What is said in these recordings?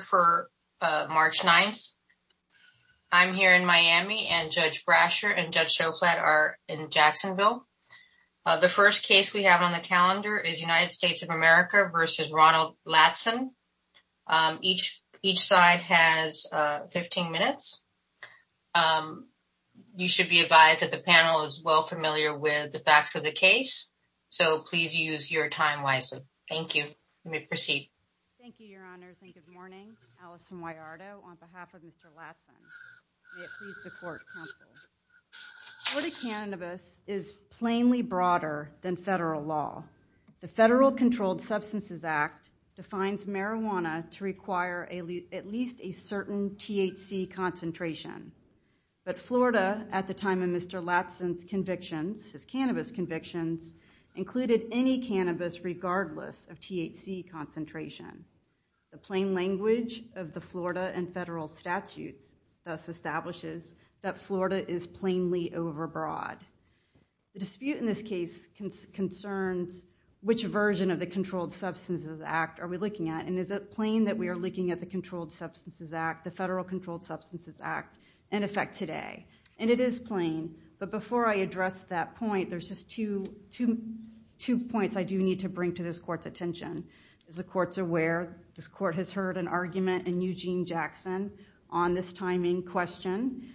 for March 9th. I'm here in Miami, and Judge Brasher and Judge Shoflat are in Jacksonville. The first case we have on the calendar is United States of America v. Ronald Latson. Each side has 15 minutes. You should be advised that the panel is well familiar with the facts of the case, so please use your time wisely. Thank you. Let me proceed. Thank you, your honors, and good morning. Allison Huayardo on behalf of Mr. Latson. Florida cannabis is plainly broader than federal law. The Federal Controlled Substances Act defines marijuana to require at least a certain THC concentration, but Florida, at the time of Mr. Latson's convictions, his cannabis convictions, included any cannabis regardless of THC concentration. The plain language of the Florida and federal statutes thus establishes that Florida is plainly overbroad. The dispute in this case concerns which version of the Controlled Substances Act are we looking at, and is it plain that we are looking at the Controlled Substances Act, the Federal Controlled Substances Act, in effect today? And it is plain, but before I address that point, there's just two points I do need to bring to this court's attention. As the court's aware, this court has heard an argument in Eugene Jackson on this timing question.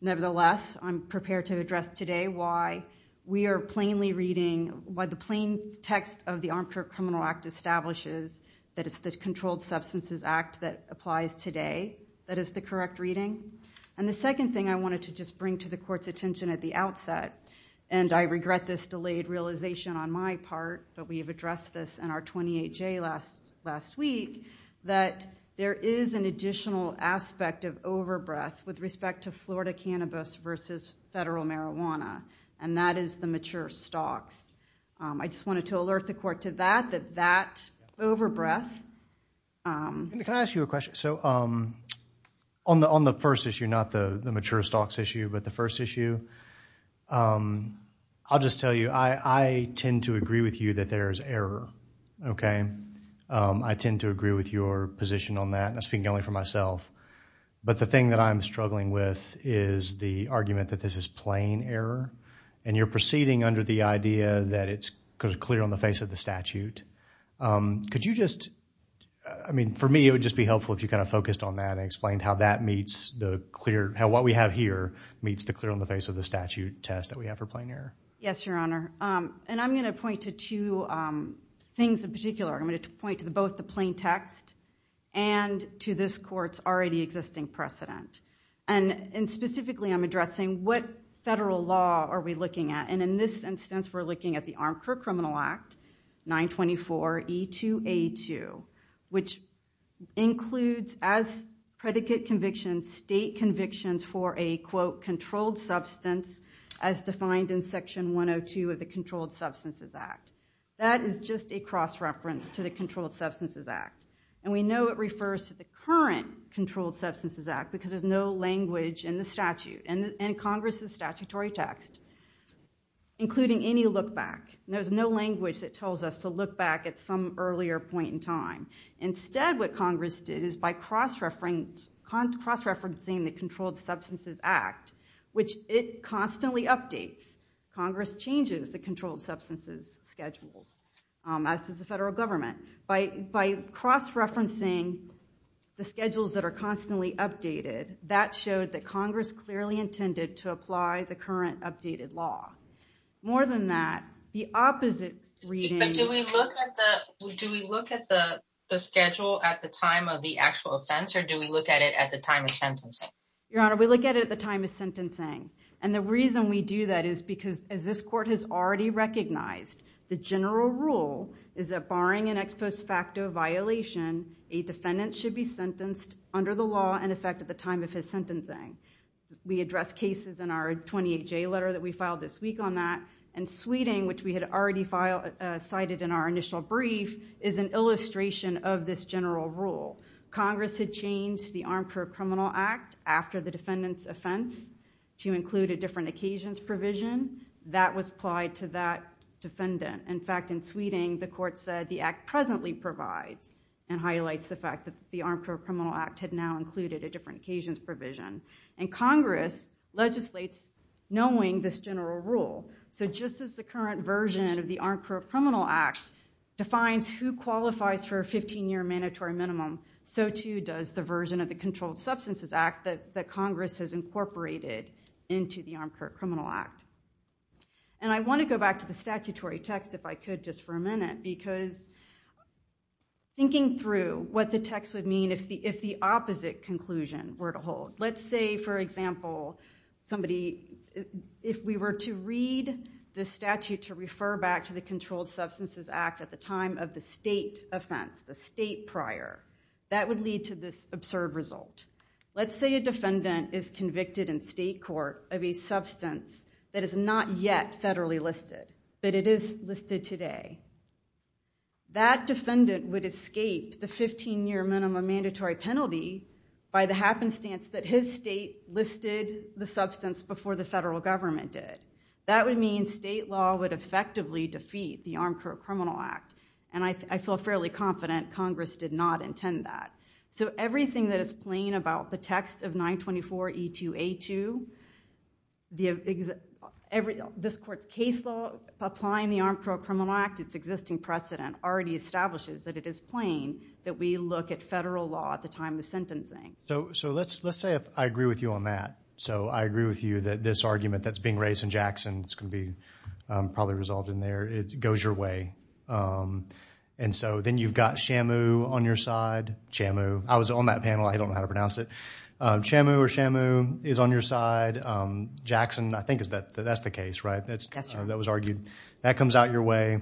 Nevertheless, I'm prepared to address today why we are plainly reading, why the plain text of the Armchair Criminal Act establishes that it's the Controlled Substances Act that applies today that is the correct reading. And the second thing I wanted to just bring to the court's attention at the outset, and I regret this delayed realization on my part, but we have addressed this in our 28-J last week, that there is an additional aspect of overbreath with respect to Florida cannabis versus federal marijuana, and that is the mature stocks. I just wanted to alert the court to that, that that overbreath... Can I ask you a question? So, on the first issue, not the mature stocks issue, but the first issue, I'll just tell you, I tend to agree with you that there's error, okay? I tend to agree with your position on that, and I'm speaking only for myself, but the thing that I'm struggling with is the argument that this is plain error, and you're proceeding under the idea that it's clear on the face of the statute. Could you just... I mean, for me, it would just be helpful if you kind of focused on that and explained how that meets the clear... How what we have here meets the clear on the face of the statute test that we have for plain error. Yes, Your Honor. And I'm going to point to two things in particular. I'm going to point to both the plain text and to this court's already existing precedent. And specifically, I'm addressing what federal law are we looking at, and in this instance, we're looking at the Armed Criminal Act, 924E2A2, which includes as predicate conviction state convictions for a, quote, controlled substance, as defined in section 102 of the Controlled Substances Act. That is just a cross-reference to the Controlled Substances Act, and we know it refers to the current Controlled Substances Act because there's no including any look back. There's no language that tells us to look back at some earlier point in time. Instead, what Congress did is by cross-referencing the Controlled Substances Act, which it constantly updates. Congress changes the Controlled Substances schedules, as does the federal government. By cross-referencing the schedules that are constantly updated, that showed that Congress clearly intended to apply the current updated law. More than that, the opposite reading... But do we look at the schedule at the time of the actual offense, or do we look at it at the time of sentencing? Your Honor, we look at it at the time of sentencing. And the reason we do that is because, as this court has already recognized, the general rule is that barring an ex post facto violation, a defendant should be sentenced under the law and at the time of his sentencing. We address cases in our 28-J letter that we filed this week on that, and Sweeting, which we had already cited in our initial brief, is an illustration of this general rule. Congress had changed the Armed Pro-Criminal Act after the defendant's offense to include a different occasions provision. That was applied to that defendant. In fact, in Sweeting, the court said the act presently provides and highlights the fact that the Armed Pro-Criminal Act had now included a different occasions provision. And Congress legislates knowing this general rule. So just as the current version of the Armed Pro-Criminal Act defines who qualifies for a 15-year mandatory minimum, so too does the version of the Controlled Substances Act that Congress has incorporated into the Armed Pro-Criminal Act. And I want to go back to the statutory text if I could just for a minute, because thinking through what the text would mean if the opposite conclusion were to hold. Let's say, for example, somebody, if we were to read the statute to refer back to the Controlled Substances Act at the time of the state offense, the state prior, that would lead to this absurd result. Let's say a defendant is convicted in state court of a substance that is not yet federally listed, but it is listed today. That defendant would escape the 15-year minimum mandatory penalty by the happenstance that his state listed the substance before the federal government did. That would mean state law would effectively defeat the Armed Pro-Criminal Act. And I feel fairly confident Congress did not intend that. So everything that is plain about the text of 924E2A2, this court's case law, applying the Armed Pro-Criminal Act, its existing precedent already establishes that it is plain that we look at federal law at the time of sentencing. So let's say I agree with you on that. So I agree with you that this argument that's being raised in Jackson, it's going to be probably resolved in there, it goes your way. And so then you've got Shamu on your side. I was on that panel, I don't know how to pronounce it. Shamu or Shamu is on your side. Jackson, I think that's the case, right? That was argued. That comes out your way.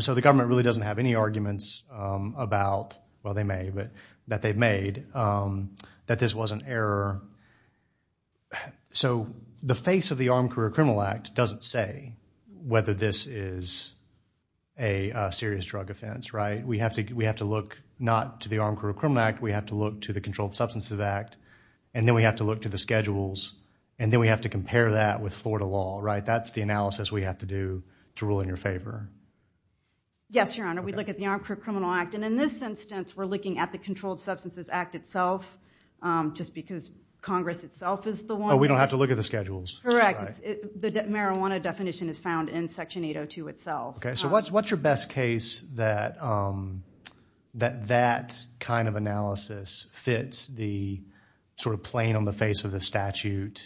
So the government really doesn't have any arguments about, well they may, but that they've made, that this was an error. So the face of the Armed Pro-Criminal Act is a serious drug offense, right? We have to look not to the Armed Pro-Criminal Act, we have to look to the Controlled Substances Act, and then we have to look to the schedules, and then we have to compare that with Florida law, right? That's the analysis we have to do to rule in your favor. Yes, Your Honor, we look at the Armed Pro-Criminal Act, and in this instance we're looking at the Controlled Substances Act itself, just because Congress itself is the one. Oh, we don't have to look at the schedules. Correct. The marijuana definition is found in Section 802 itself. Okay, so what's your best case that that kind of analysis fits the sort of plain on the face of the statute,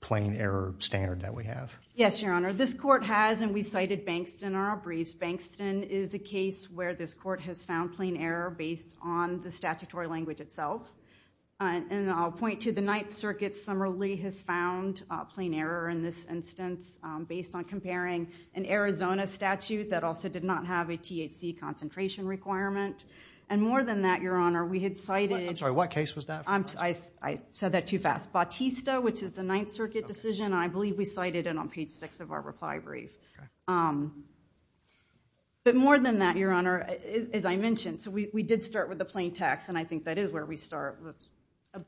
plain error standard that we have? Yes, Your Honor, this court has, and we cited Bankston in our briefs, Bankston is a case where this court has found plain error based on the statutory language itself. And I'll point to the Ninth Circuit, Summerlee has found plain error in this instance based on comparing an Arizona statute that also did not have a THC concentration requirement. And more than that, Your Honor, we had cited... I'm sorry, what case was that? I said that too fast. Bautista, which is the Ninth Circuit decision, I believe we cited it on page six of our reply brief. But more than that, Your Honor, as I mentioned, so we did start with the plain text, and I think that is where we start.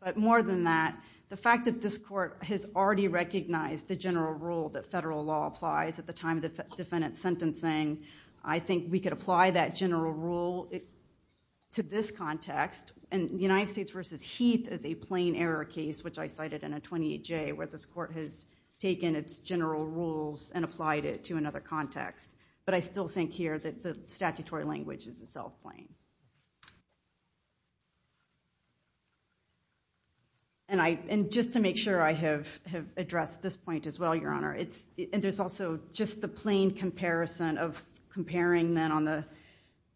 But more than that, the fact that this court has already recognized the general rule that federal law applies at the time of the defendant's sentencing, I think we could apply that general rule to this context. And the United States v. Heath is a plain error case, which I cited in a 28J, where this court has taken its general rules and applied it to another case. And just to make sure I have addressed this point as well, Your Honor, and there's also just the plain comparison of comparing then on the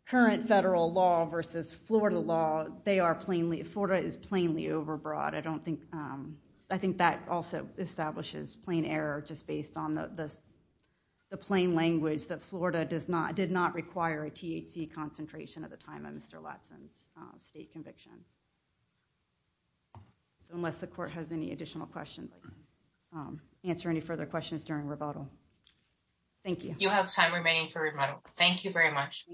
current federal law versus Florida law, they are plainly... Florida is plainly overbroad. I think that also establishes plain error just based on the plain language that Florida did not require a THC concentration at the time of Mr. Brasher's conviction. So unless the court has any additional questions, answer any further questions during rebuttal. Thank you. You have time remaining for rebuttal. Thank you very much.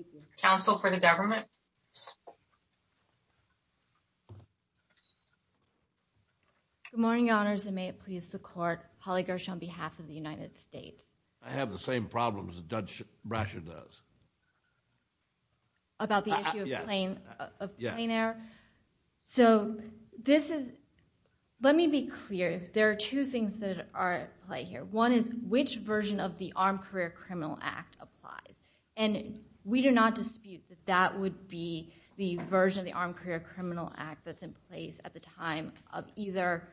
Counsel for the government. Good morning, Your Honors, and may it please the court, Holly Gersh on behalf of the United States. I have the same problems that Judge Brasher does. About the issue of plain error? Yeah. So this is... Let me be clear. There are two things that are at play here. One is, which version of the Armed Career Criminal Act applies? And we do not dispute that that would be the version of the Armed Career Criminal Act that's in place at the time of either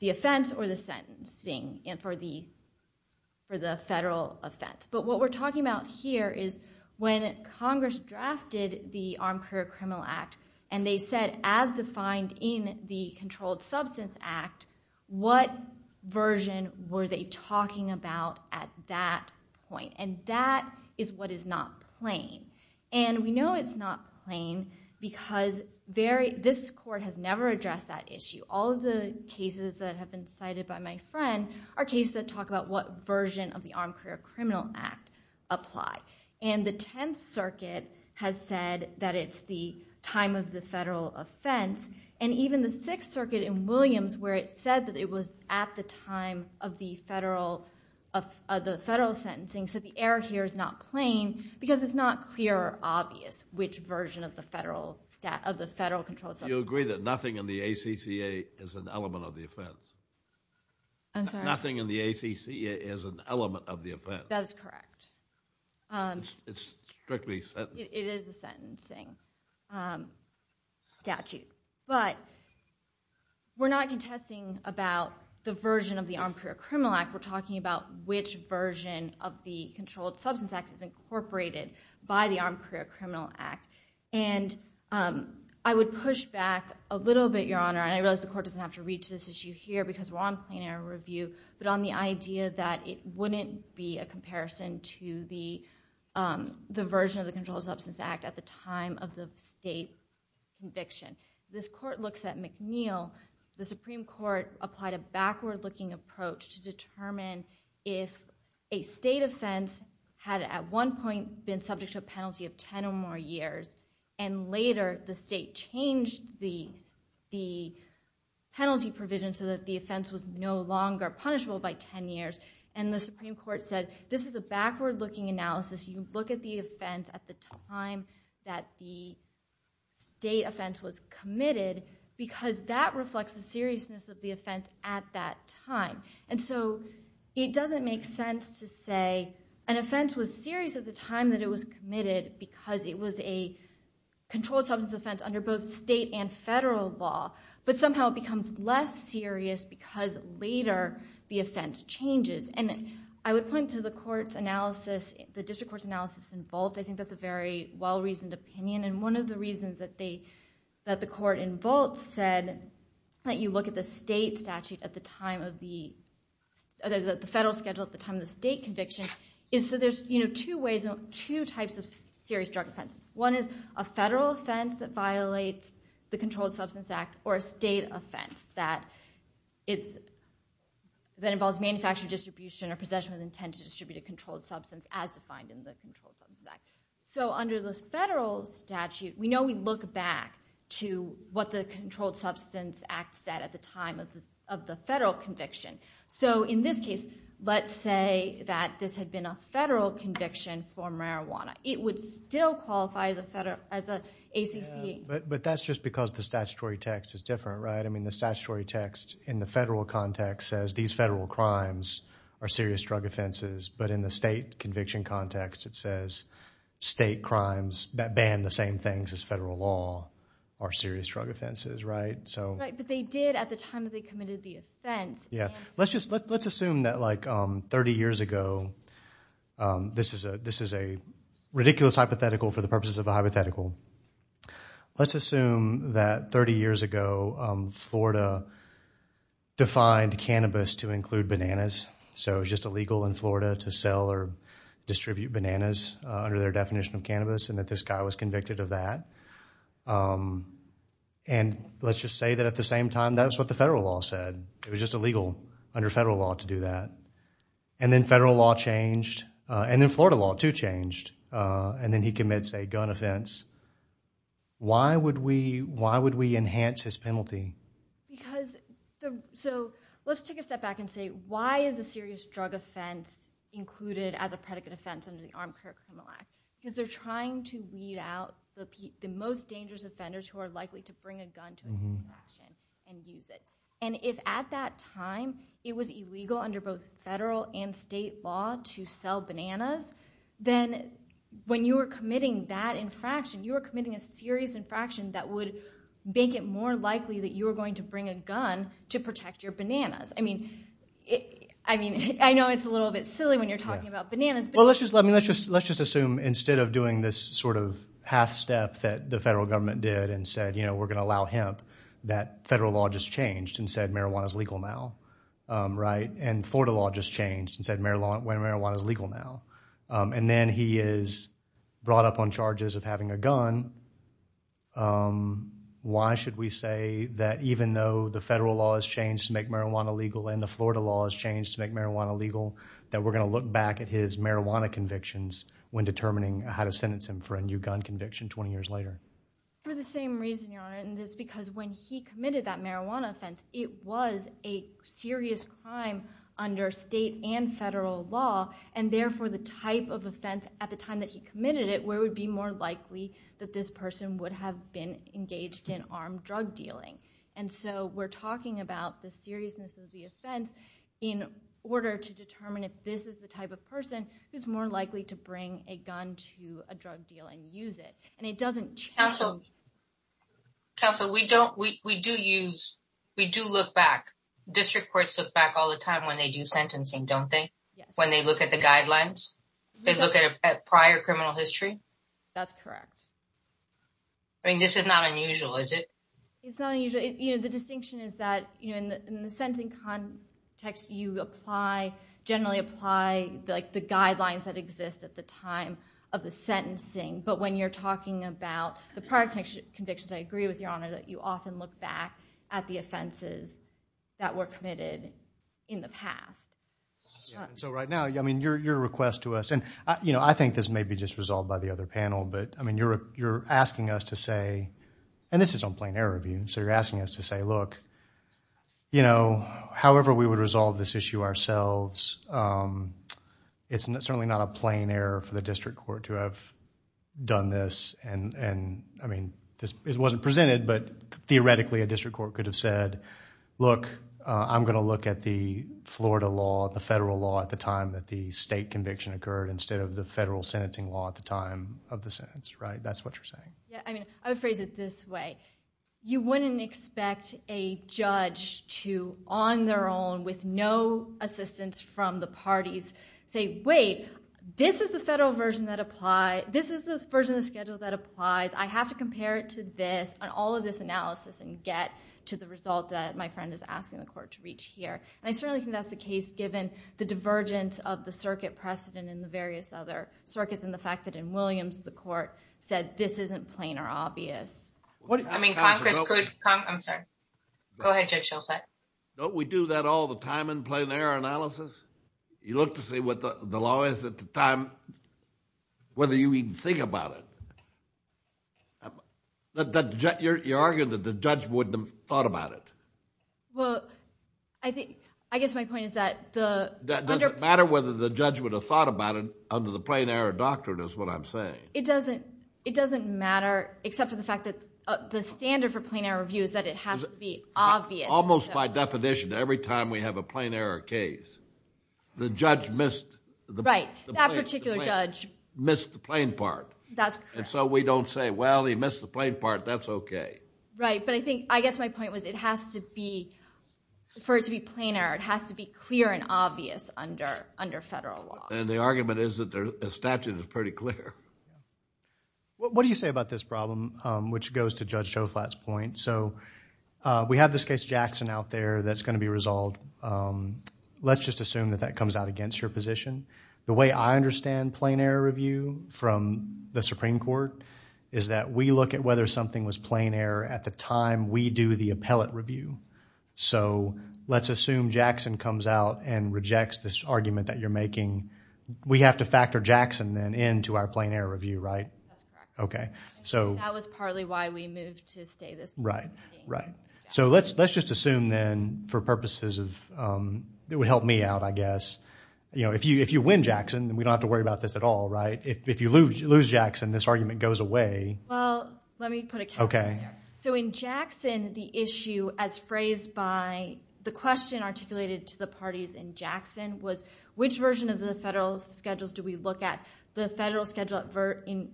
the offense or the sentencing for the federal offense. But what we're talking about here is when Congress drafted the Armed Career Criminal Act, and they said as defined in the Controlled Substance Act, what version were they talking about at that point? And that is what is not plain. And we know it's not plain because this court has never addressed that issue. All of the cases cited by my friend are cases that talk about what version of the Armed Career Criminal Act apply. And the Tenth Circuit has said that it's the time of the federal offense. And even the Sixth Circuit in Williams where it said that it was at the time of the federal sentencing. So the error here is not plain because it's not clear or obvious which version of the federal stat... of the federal controlled substance... You agree that nothing in the ACCA is an element of the offense? I'm sorry? Nothing in the ACCA is an element of the offense? That is correct. It's strictly sent... It is a sentencing statute. But we're not contesting about the version of the Armed Career Criminal Act. We're talking about which version of the Controlled Substance Act is a federal offense. I realize the court doesn't have to reach this issue here because we're on plain error review, but on the idea that it wouldn't be a comparison to the version of the Controlled Substance Act at the time of the state conviction. This court looks at McNeill. The Supreme Court applied a backward-looking approach to determine if a state offense had at one point been subject to a penalty of 10 or more years, and later the state changed the penalty provision so that the offense was no longer punishable by 10 years. And the Supreme Court said this is a backward-looking analysis. You look at the offense at the time that the state offense was committed because that reflects the seriousness of the offense at that time. And so it doesn't make sense to say an offense was serious at the time that it was committed because it was a controlled substance offense under both state and federal law. But somehow it becomes less serious because later the offense changes. And I would point to the district court's analysis in Volt. I think that's a very well-reasoned opinion. And one of the reasons that the court in Volt said that you schedule at the time of the state conviction is so there's two types of serious drug offenses. One is a federal offense that violates the Controlled Substance Act or a state offense that involves manufacturing distribution or possession with intent to distribute a controlled substance as defined in the Controlled Substance Act. So under the federal statute, we know we look back to what the Controlled Substance Act said at the time of the federal conviction. So in this case, let's say that this had been a federal conviction for marijuana. It would still qualify as a federal, as a ACC. But that's just because the statutory text is different, right? I mean, the statutory text in the federal context says these federal crimes are serious drug offenses. But in the state conviction context, it says state crimes that ban the same things as federal law are serious drug offenses, right? Right, but they did at the time that they committed the offense. Yeah, let's just let's assume that like 30 years ago, this is a ridiculous hypothetical for the purposes of a hypothetical. Let's assume that 30 years ago, Florida defined cannabis to include bananas. So it's just illegal in Florida to sell or distribute bananas under their definition of cannabis and that this guy was convicted of that. And let's just say that at the same time, that's what the federal law said. It was just illegal under federal law to do that. And then federal law changed. And then Florida law too changed. And then he commits a gun offense. Why would we enhance his penalty? Because, so let's take a step back and say, why is a serious drug offense included as a predicate offense under the Armed Career Criminal Act? Because they're trying to weed out the most offenders who are likely to bring a gun to an infraction and use it. And if at that time, it was illegal under both federal and state law to sell bananas, then when you were committing that infraction, you were committing a serious infraction that would make it more likely that you were going to bring a gun to protect your bananas. I mean, I know it's a little bit silly when you're talking about bananas. Well, let's just assume instead of doing this sort of half step that the federal government did and said, you know, we're going to allow hemp, that federal law just changed and said marijuana is legal now, right? And Florida law just changed and said marijuana is legal now. And then he is brought up on charges of having a gun. Why should we say that even though the federal law has changed to make marijuana legal and the Florida law has changed to make marijuana legal, that we're going to look back at his marijuana convictions when determining how to sentence him for a new gun conviction 20 years later? For the same reason, Your Honor, and it's because when he committed that marijuana offense, it was a serious crime under state and federal law. And therefore, the type of offense at the time that he committed it, where it would be more likely that this person would have been engaged in armed drug dealing. And so we're talking about the seriousness of the offense in order to determine if this is the type of person who's more likely to bring a gun to a drug deal and use it. And it doesn't change. Counsel, we do look back. District courts look back all the time when they do sentencing, don't they? When they look at the guidelines, they look at a prior criminal history. That's correct. I mean, this is not unusual, is it? It's not unusual. You know, the distinction is that, you know, in the sentencing context, you apply, generally apply, like the guidelines that exist at the time of the sentencing. But when you're talking about the prior convictions, I agree with Your Honor that you often look back at the offenses that were committed in the past. So right now, I mean, your request to us, and you know, I think this may be just resolved by the other panel, but I mean, you're asking us to say, and this is on plain error review, so you're asking us to say, look, you know, however we would resolve this issue ourselves, it's certainly not a plain error for the district court to have done this. And I mean, this wasn't presented, but theoretically a district court could have said, look, I'm going to look at the Florida law, the federal law at the time that the state conviction occurred instead of the federal sentencing law at the time of the sentence, right? That's what you're saying. Yeah, I mean, I would phrase it this way. You wouldn't expect a judge to, on their own, with no assistance from the parties, say, wait, this is the federal version that applies, this is the version of the schedule that applies, I have to compare it to this and all of this analysis and get to the result that my friend is asking the court to reach here. And I certainly think that's the case given the divergence of the circuit precedent in the court said this isn't plain or obvious. I mean, Congress could, I'm sorry. Go ahead, Judge Shultz. Don't we do that all the time in plain error analysis? You look to see what the law is at the time, whether you even think about it. You're arguing that the judge wouldn't have thought about it. Well, I think, I guess my point is that the... That doesn't matter whether the judge would have thought about it under the plain error doctrine is what I'm saying. It doesn't matter, except for the fact that the standard for plain error review is that it has to be obvious. Almost by definition, every time we have a plain error case, the judge missed the... Right, that particular judge... Missed the plain part. That's correct. And so we don't say, well, he missed the plain part, that's okay. Right, but I think, I guess my point was it has to be, for it to be plain error, it has to be clear and obvious under federal law. And the argument is that the statute is pretty clear. What do you say about this problem, which goes to Judge Joflat's point? So we have this case Jackson out there that's going to be resolved. Let's just assume that that comes out against your position. The way I understand plain error review from the Supreme Court is that we look at whether something was plain error at the time we do the appellate review. So let's assume Jackson comes out and rejects this argument that you're making. We have to factor Jackson then into our plain error review, right? That's correct. Okay, so... That was partly why we moved to stay this morning. Right, right. So let's just assume then, for purposes of... It would help me out, I guess. You know, if you win Jackson, then we don't have to worry about this at all, right? If you lose Jackson, this argument goes away. Well, let me put a caveat there. So in Jackson, the issue as phrased by the question articulated to the parties in Jackson was, which version of the federal schedules do we look at? The federal schedule in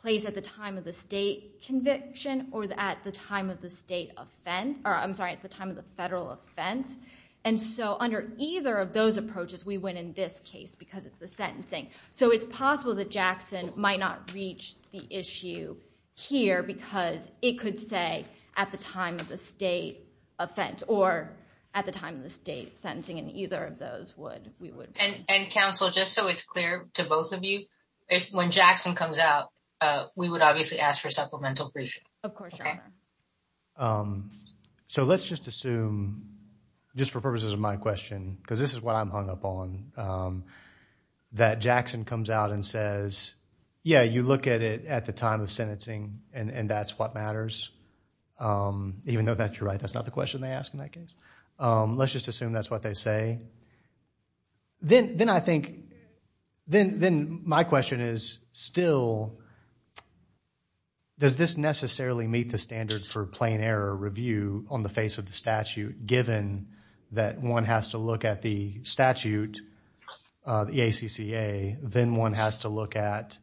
place at the time of the state conviction or at the time of the state offense... Or I'm sorry, at the time of the federal offense. And so under either of those approaches, we win in this case because it's the sentencing. So it's possible that Jackson might not reach the issue here because it could say at the time of the state offense or at the time of the state sentencing. And either of those would, we would... And counsel, just so it's clear to both of you, when Jackson comes out, we would obviously ask for supplemental briefings. Of course, your honor. So let's just assume, just for purposes of my question, because this is what I'm hung up on, that Jackson comes out and says, yeah, you look at it at the time of the sentencing and that's what matters. Even though you're right, that's not the question they ask in that case. Let's just assume that's what they say. Then I think, then my question is still, does this necessarily meet the standards for plain on the face of the statute, given that one has to look at the statute, the ACCA, then one has to look at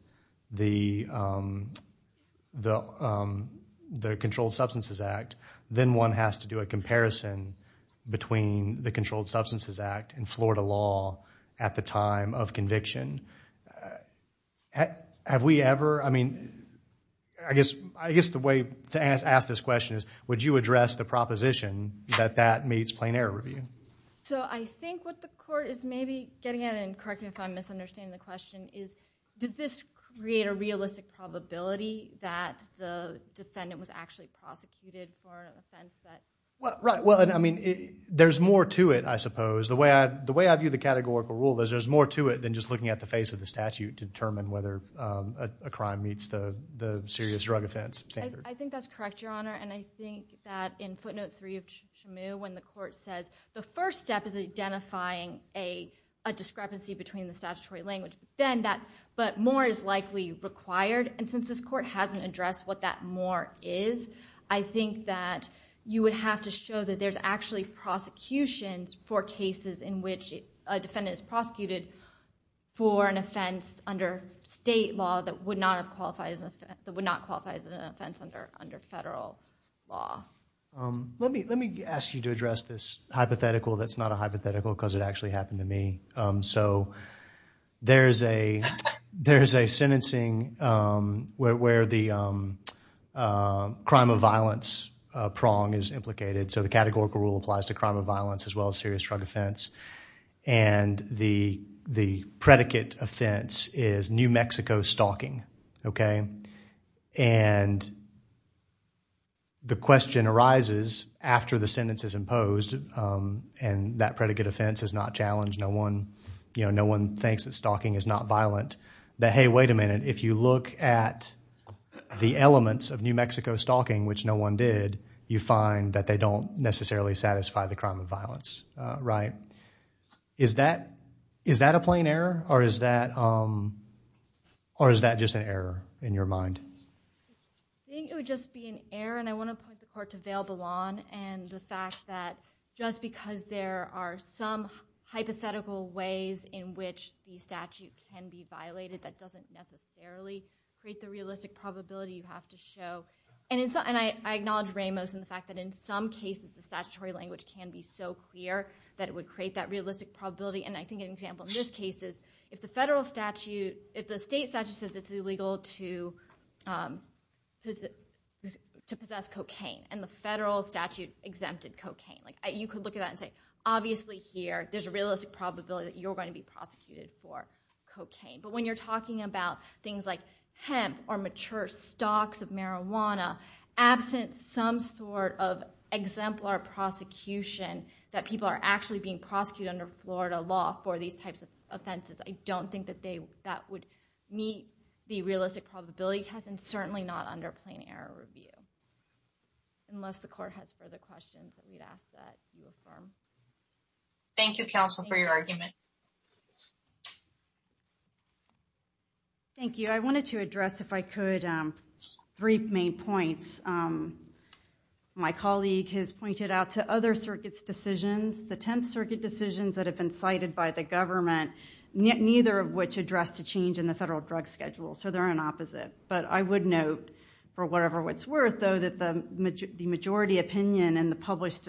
the Controlled Substances Act, then one has to do a comparison between the Controlled Substances Act and Florida law at the time of conviction? Have we ever, I mean, I guess the way to ask this question is, would you address the proposition that that meets plain error review? So I think what the court is maybe getting at, and correct me if I'm misunderstanding the question, is does this create a realistic probability that the defendant was actually prosecuted for an offense that- Well, right. Well, I mean, there's more to it, I suppose. The way I view the categorical rule is there's more to it than just looking at the face of the statute to determine whether a crime meets the serious drug offense standard. I think that's correct, Your Honor, and I think that in footnote three of Shamu, when the court says the first step is identifying a discrepancy between the statutory language, then that, but more is likely required. And since this court hasn't addressed what that more is, I think that you would have to show that there's actually prosecutions for cases in which a defendant is prosecuted for an offense under state law that would not have qualified as an offense, that would not qualify as an offense under federal law. Let me ask you to address this hypothetical that's not a hypothetical because it actually happened to me. So there's a sentencing where the crime of violence prong is implicated. So the categorical rule applies to crime of violence as well as serious drug offense. And the predicate offense is New Mexico stalking. And the question arises after the sentence is imposed, and that predicate offense is not challenged, no one thinks that stalking is not violent, that hey, wait a minute, if you look at the elements of New Mexico stalking, which no one did, you find that they don't necessarily satisfy the crime of violence. Is that a plain error, or is that just an error in your mind? I think it would just be an error. And I want to point the court to Vail Ballon and the fact that just because there are some hypothetical ways in which the statute can be violated that doesn't necessarily create the realistic probability you have to show. And I acknowledge Ramos in the fact that in some cases the statutory language can be so clear that it would create that realistic probability. And I think an example in this case is if the federal statute, if the state statute says it's illegal to possess cocaine, and the federal statute exempted cocaine, you could look at that and say, obviously here there's a realistic probability that you're going to be prosecuted for cocaine. But when you're talking about things like hemp or mature stalks of marijuana, absent some sort of exemplar prosecution that people are actually being prosecuted under Florida law for these types of offenses, I don't think that would meet the realistic probability test, and certainly not under plain error review. Unless the court has further questions that we'd ask that you affirm. Thank you, counsel, for your argument. Thank you. I wanted to address, if I could, three main points. My colleague has pointed out to other circuits' decisions, the Tenth Circuit decisions that have been cited by the government, neither of which addressed a change in the federal drug schedule. So they're an opposite. But I would note, for whatever it's worth, though, that the majority opinion in the published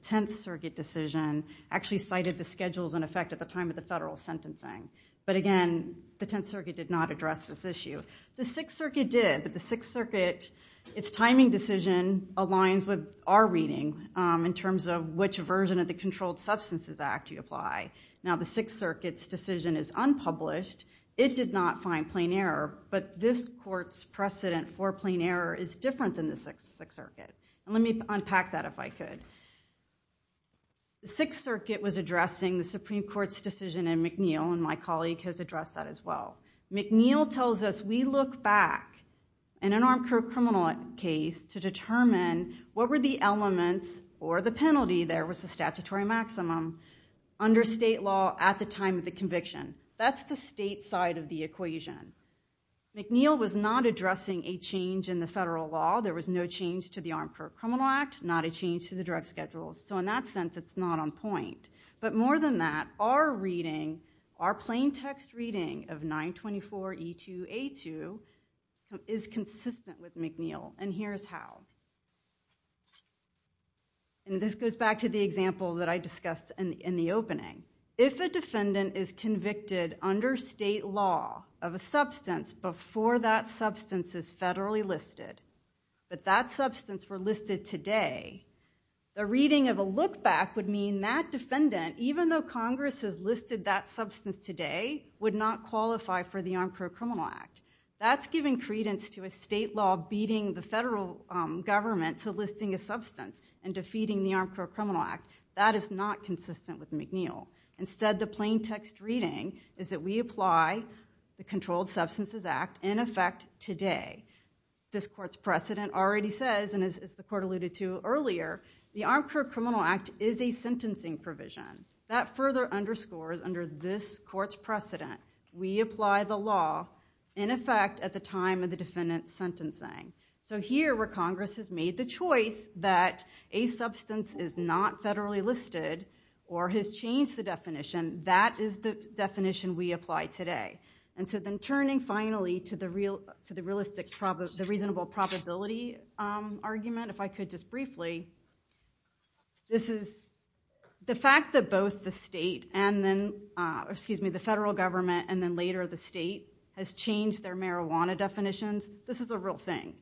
Tenth Circuit decision actually cited the schedules in effect at the time of the federal sentencing. But again, the Tenth Circuit did not address this issue. The Sixth Circuit did. But the Sixth Circuit, its timing decision aligns with our reading in terms of which version of the Controlled Substances Act you apply. Now, the Sixth Circuit's decision is unpublished. It did not find plain error. But this court's precedent for plain error is different than the Sixth Circuit. And let me unpack that, if I could. The Sixth Circuit was addressing the Supreme Court's decision in McNeil. And my colleague has addressed that as well. McNeil tells us, we look back in an armed court criminal case to determine what were the elements or the penalty there was a statutory maximum under state law at the time of the conviction. That's the state side of the equation. McNeil was not addressing a change in the federal law. There was no change to the Armed Court Criminal Act, not a change to the drug schedule. So in that sense, it's not on point. But more than that, our reading, our plain text reading of 924E2A2 is consistent with McNeil. And here's how. And this goes back to the example that I discussed in the opening. If a defendant is convicted under state law of a substance before that substance is federally listed, but that substance were listed today, the reading of a look back would mean that defendant, even though Congress has listed that substance today, would not qualify for the Armed Court Criminal Act. That's giving credence to a state law beating the federal government to listing a substance and defeating the Armed Court Criminal Act. That is not consistent with McNeil. Instead, the plain text reading is that we apply the Controlled Substances Act in effect today. This court's precedent already says, and as the court alluded to earlier, the Armed Court Criminal Act is a sentencing provision. That further underscores, under this court's precedent, we apply the law in effect at the time of the defendant's sentencing. So here, where Congress has made the choice that a substance is not federally listed or has changed the definition, that is the definition we apply today. And so then turning finally to the reasonable probability argument, if I could just briefly, this is the fact that both the state and then, excuse me, the federal government and then later the state has changed their marijuana definitions. This is a real thing.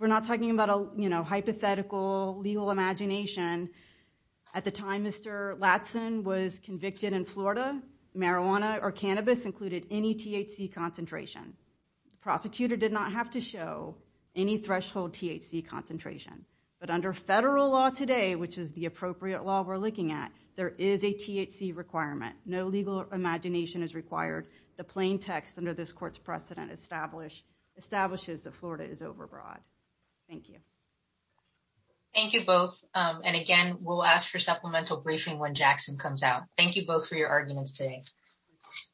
We're not talking about a hypothetical legal imagination. At the time Mr. Latson was convicted in Florida, marijuana or cannabis included any THC concentration. The prosecutor did not have to show any threshold THC concentration. But under federal law today, which is the appropriate law we're looking at, there is a THC requirement. No legal imagination is required. The plain text under this court's precedent establishes that Florida is overbroad. Thank you. Thank you both. And again, we'll ask for supplemental briefing when Jackson comes out. Thank you both for your arguments today.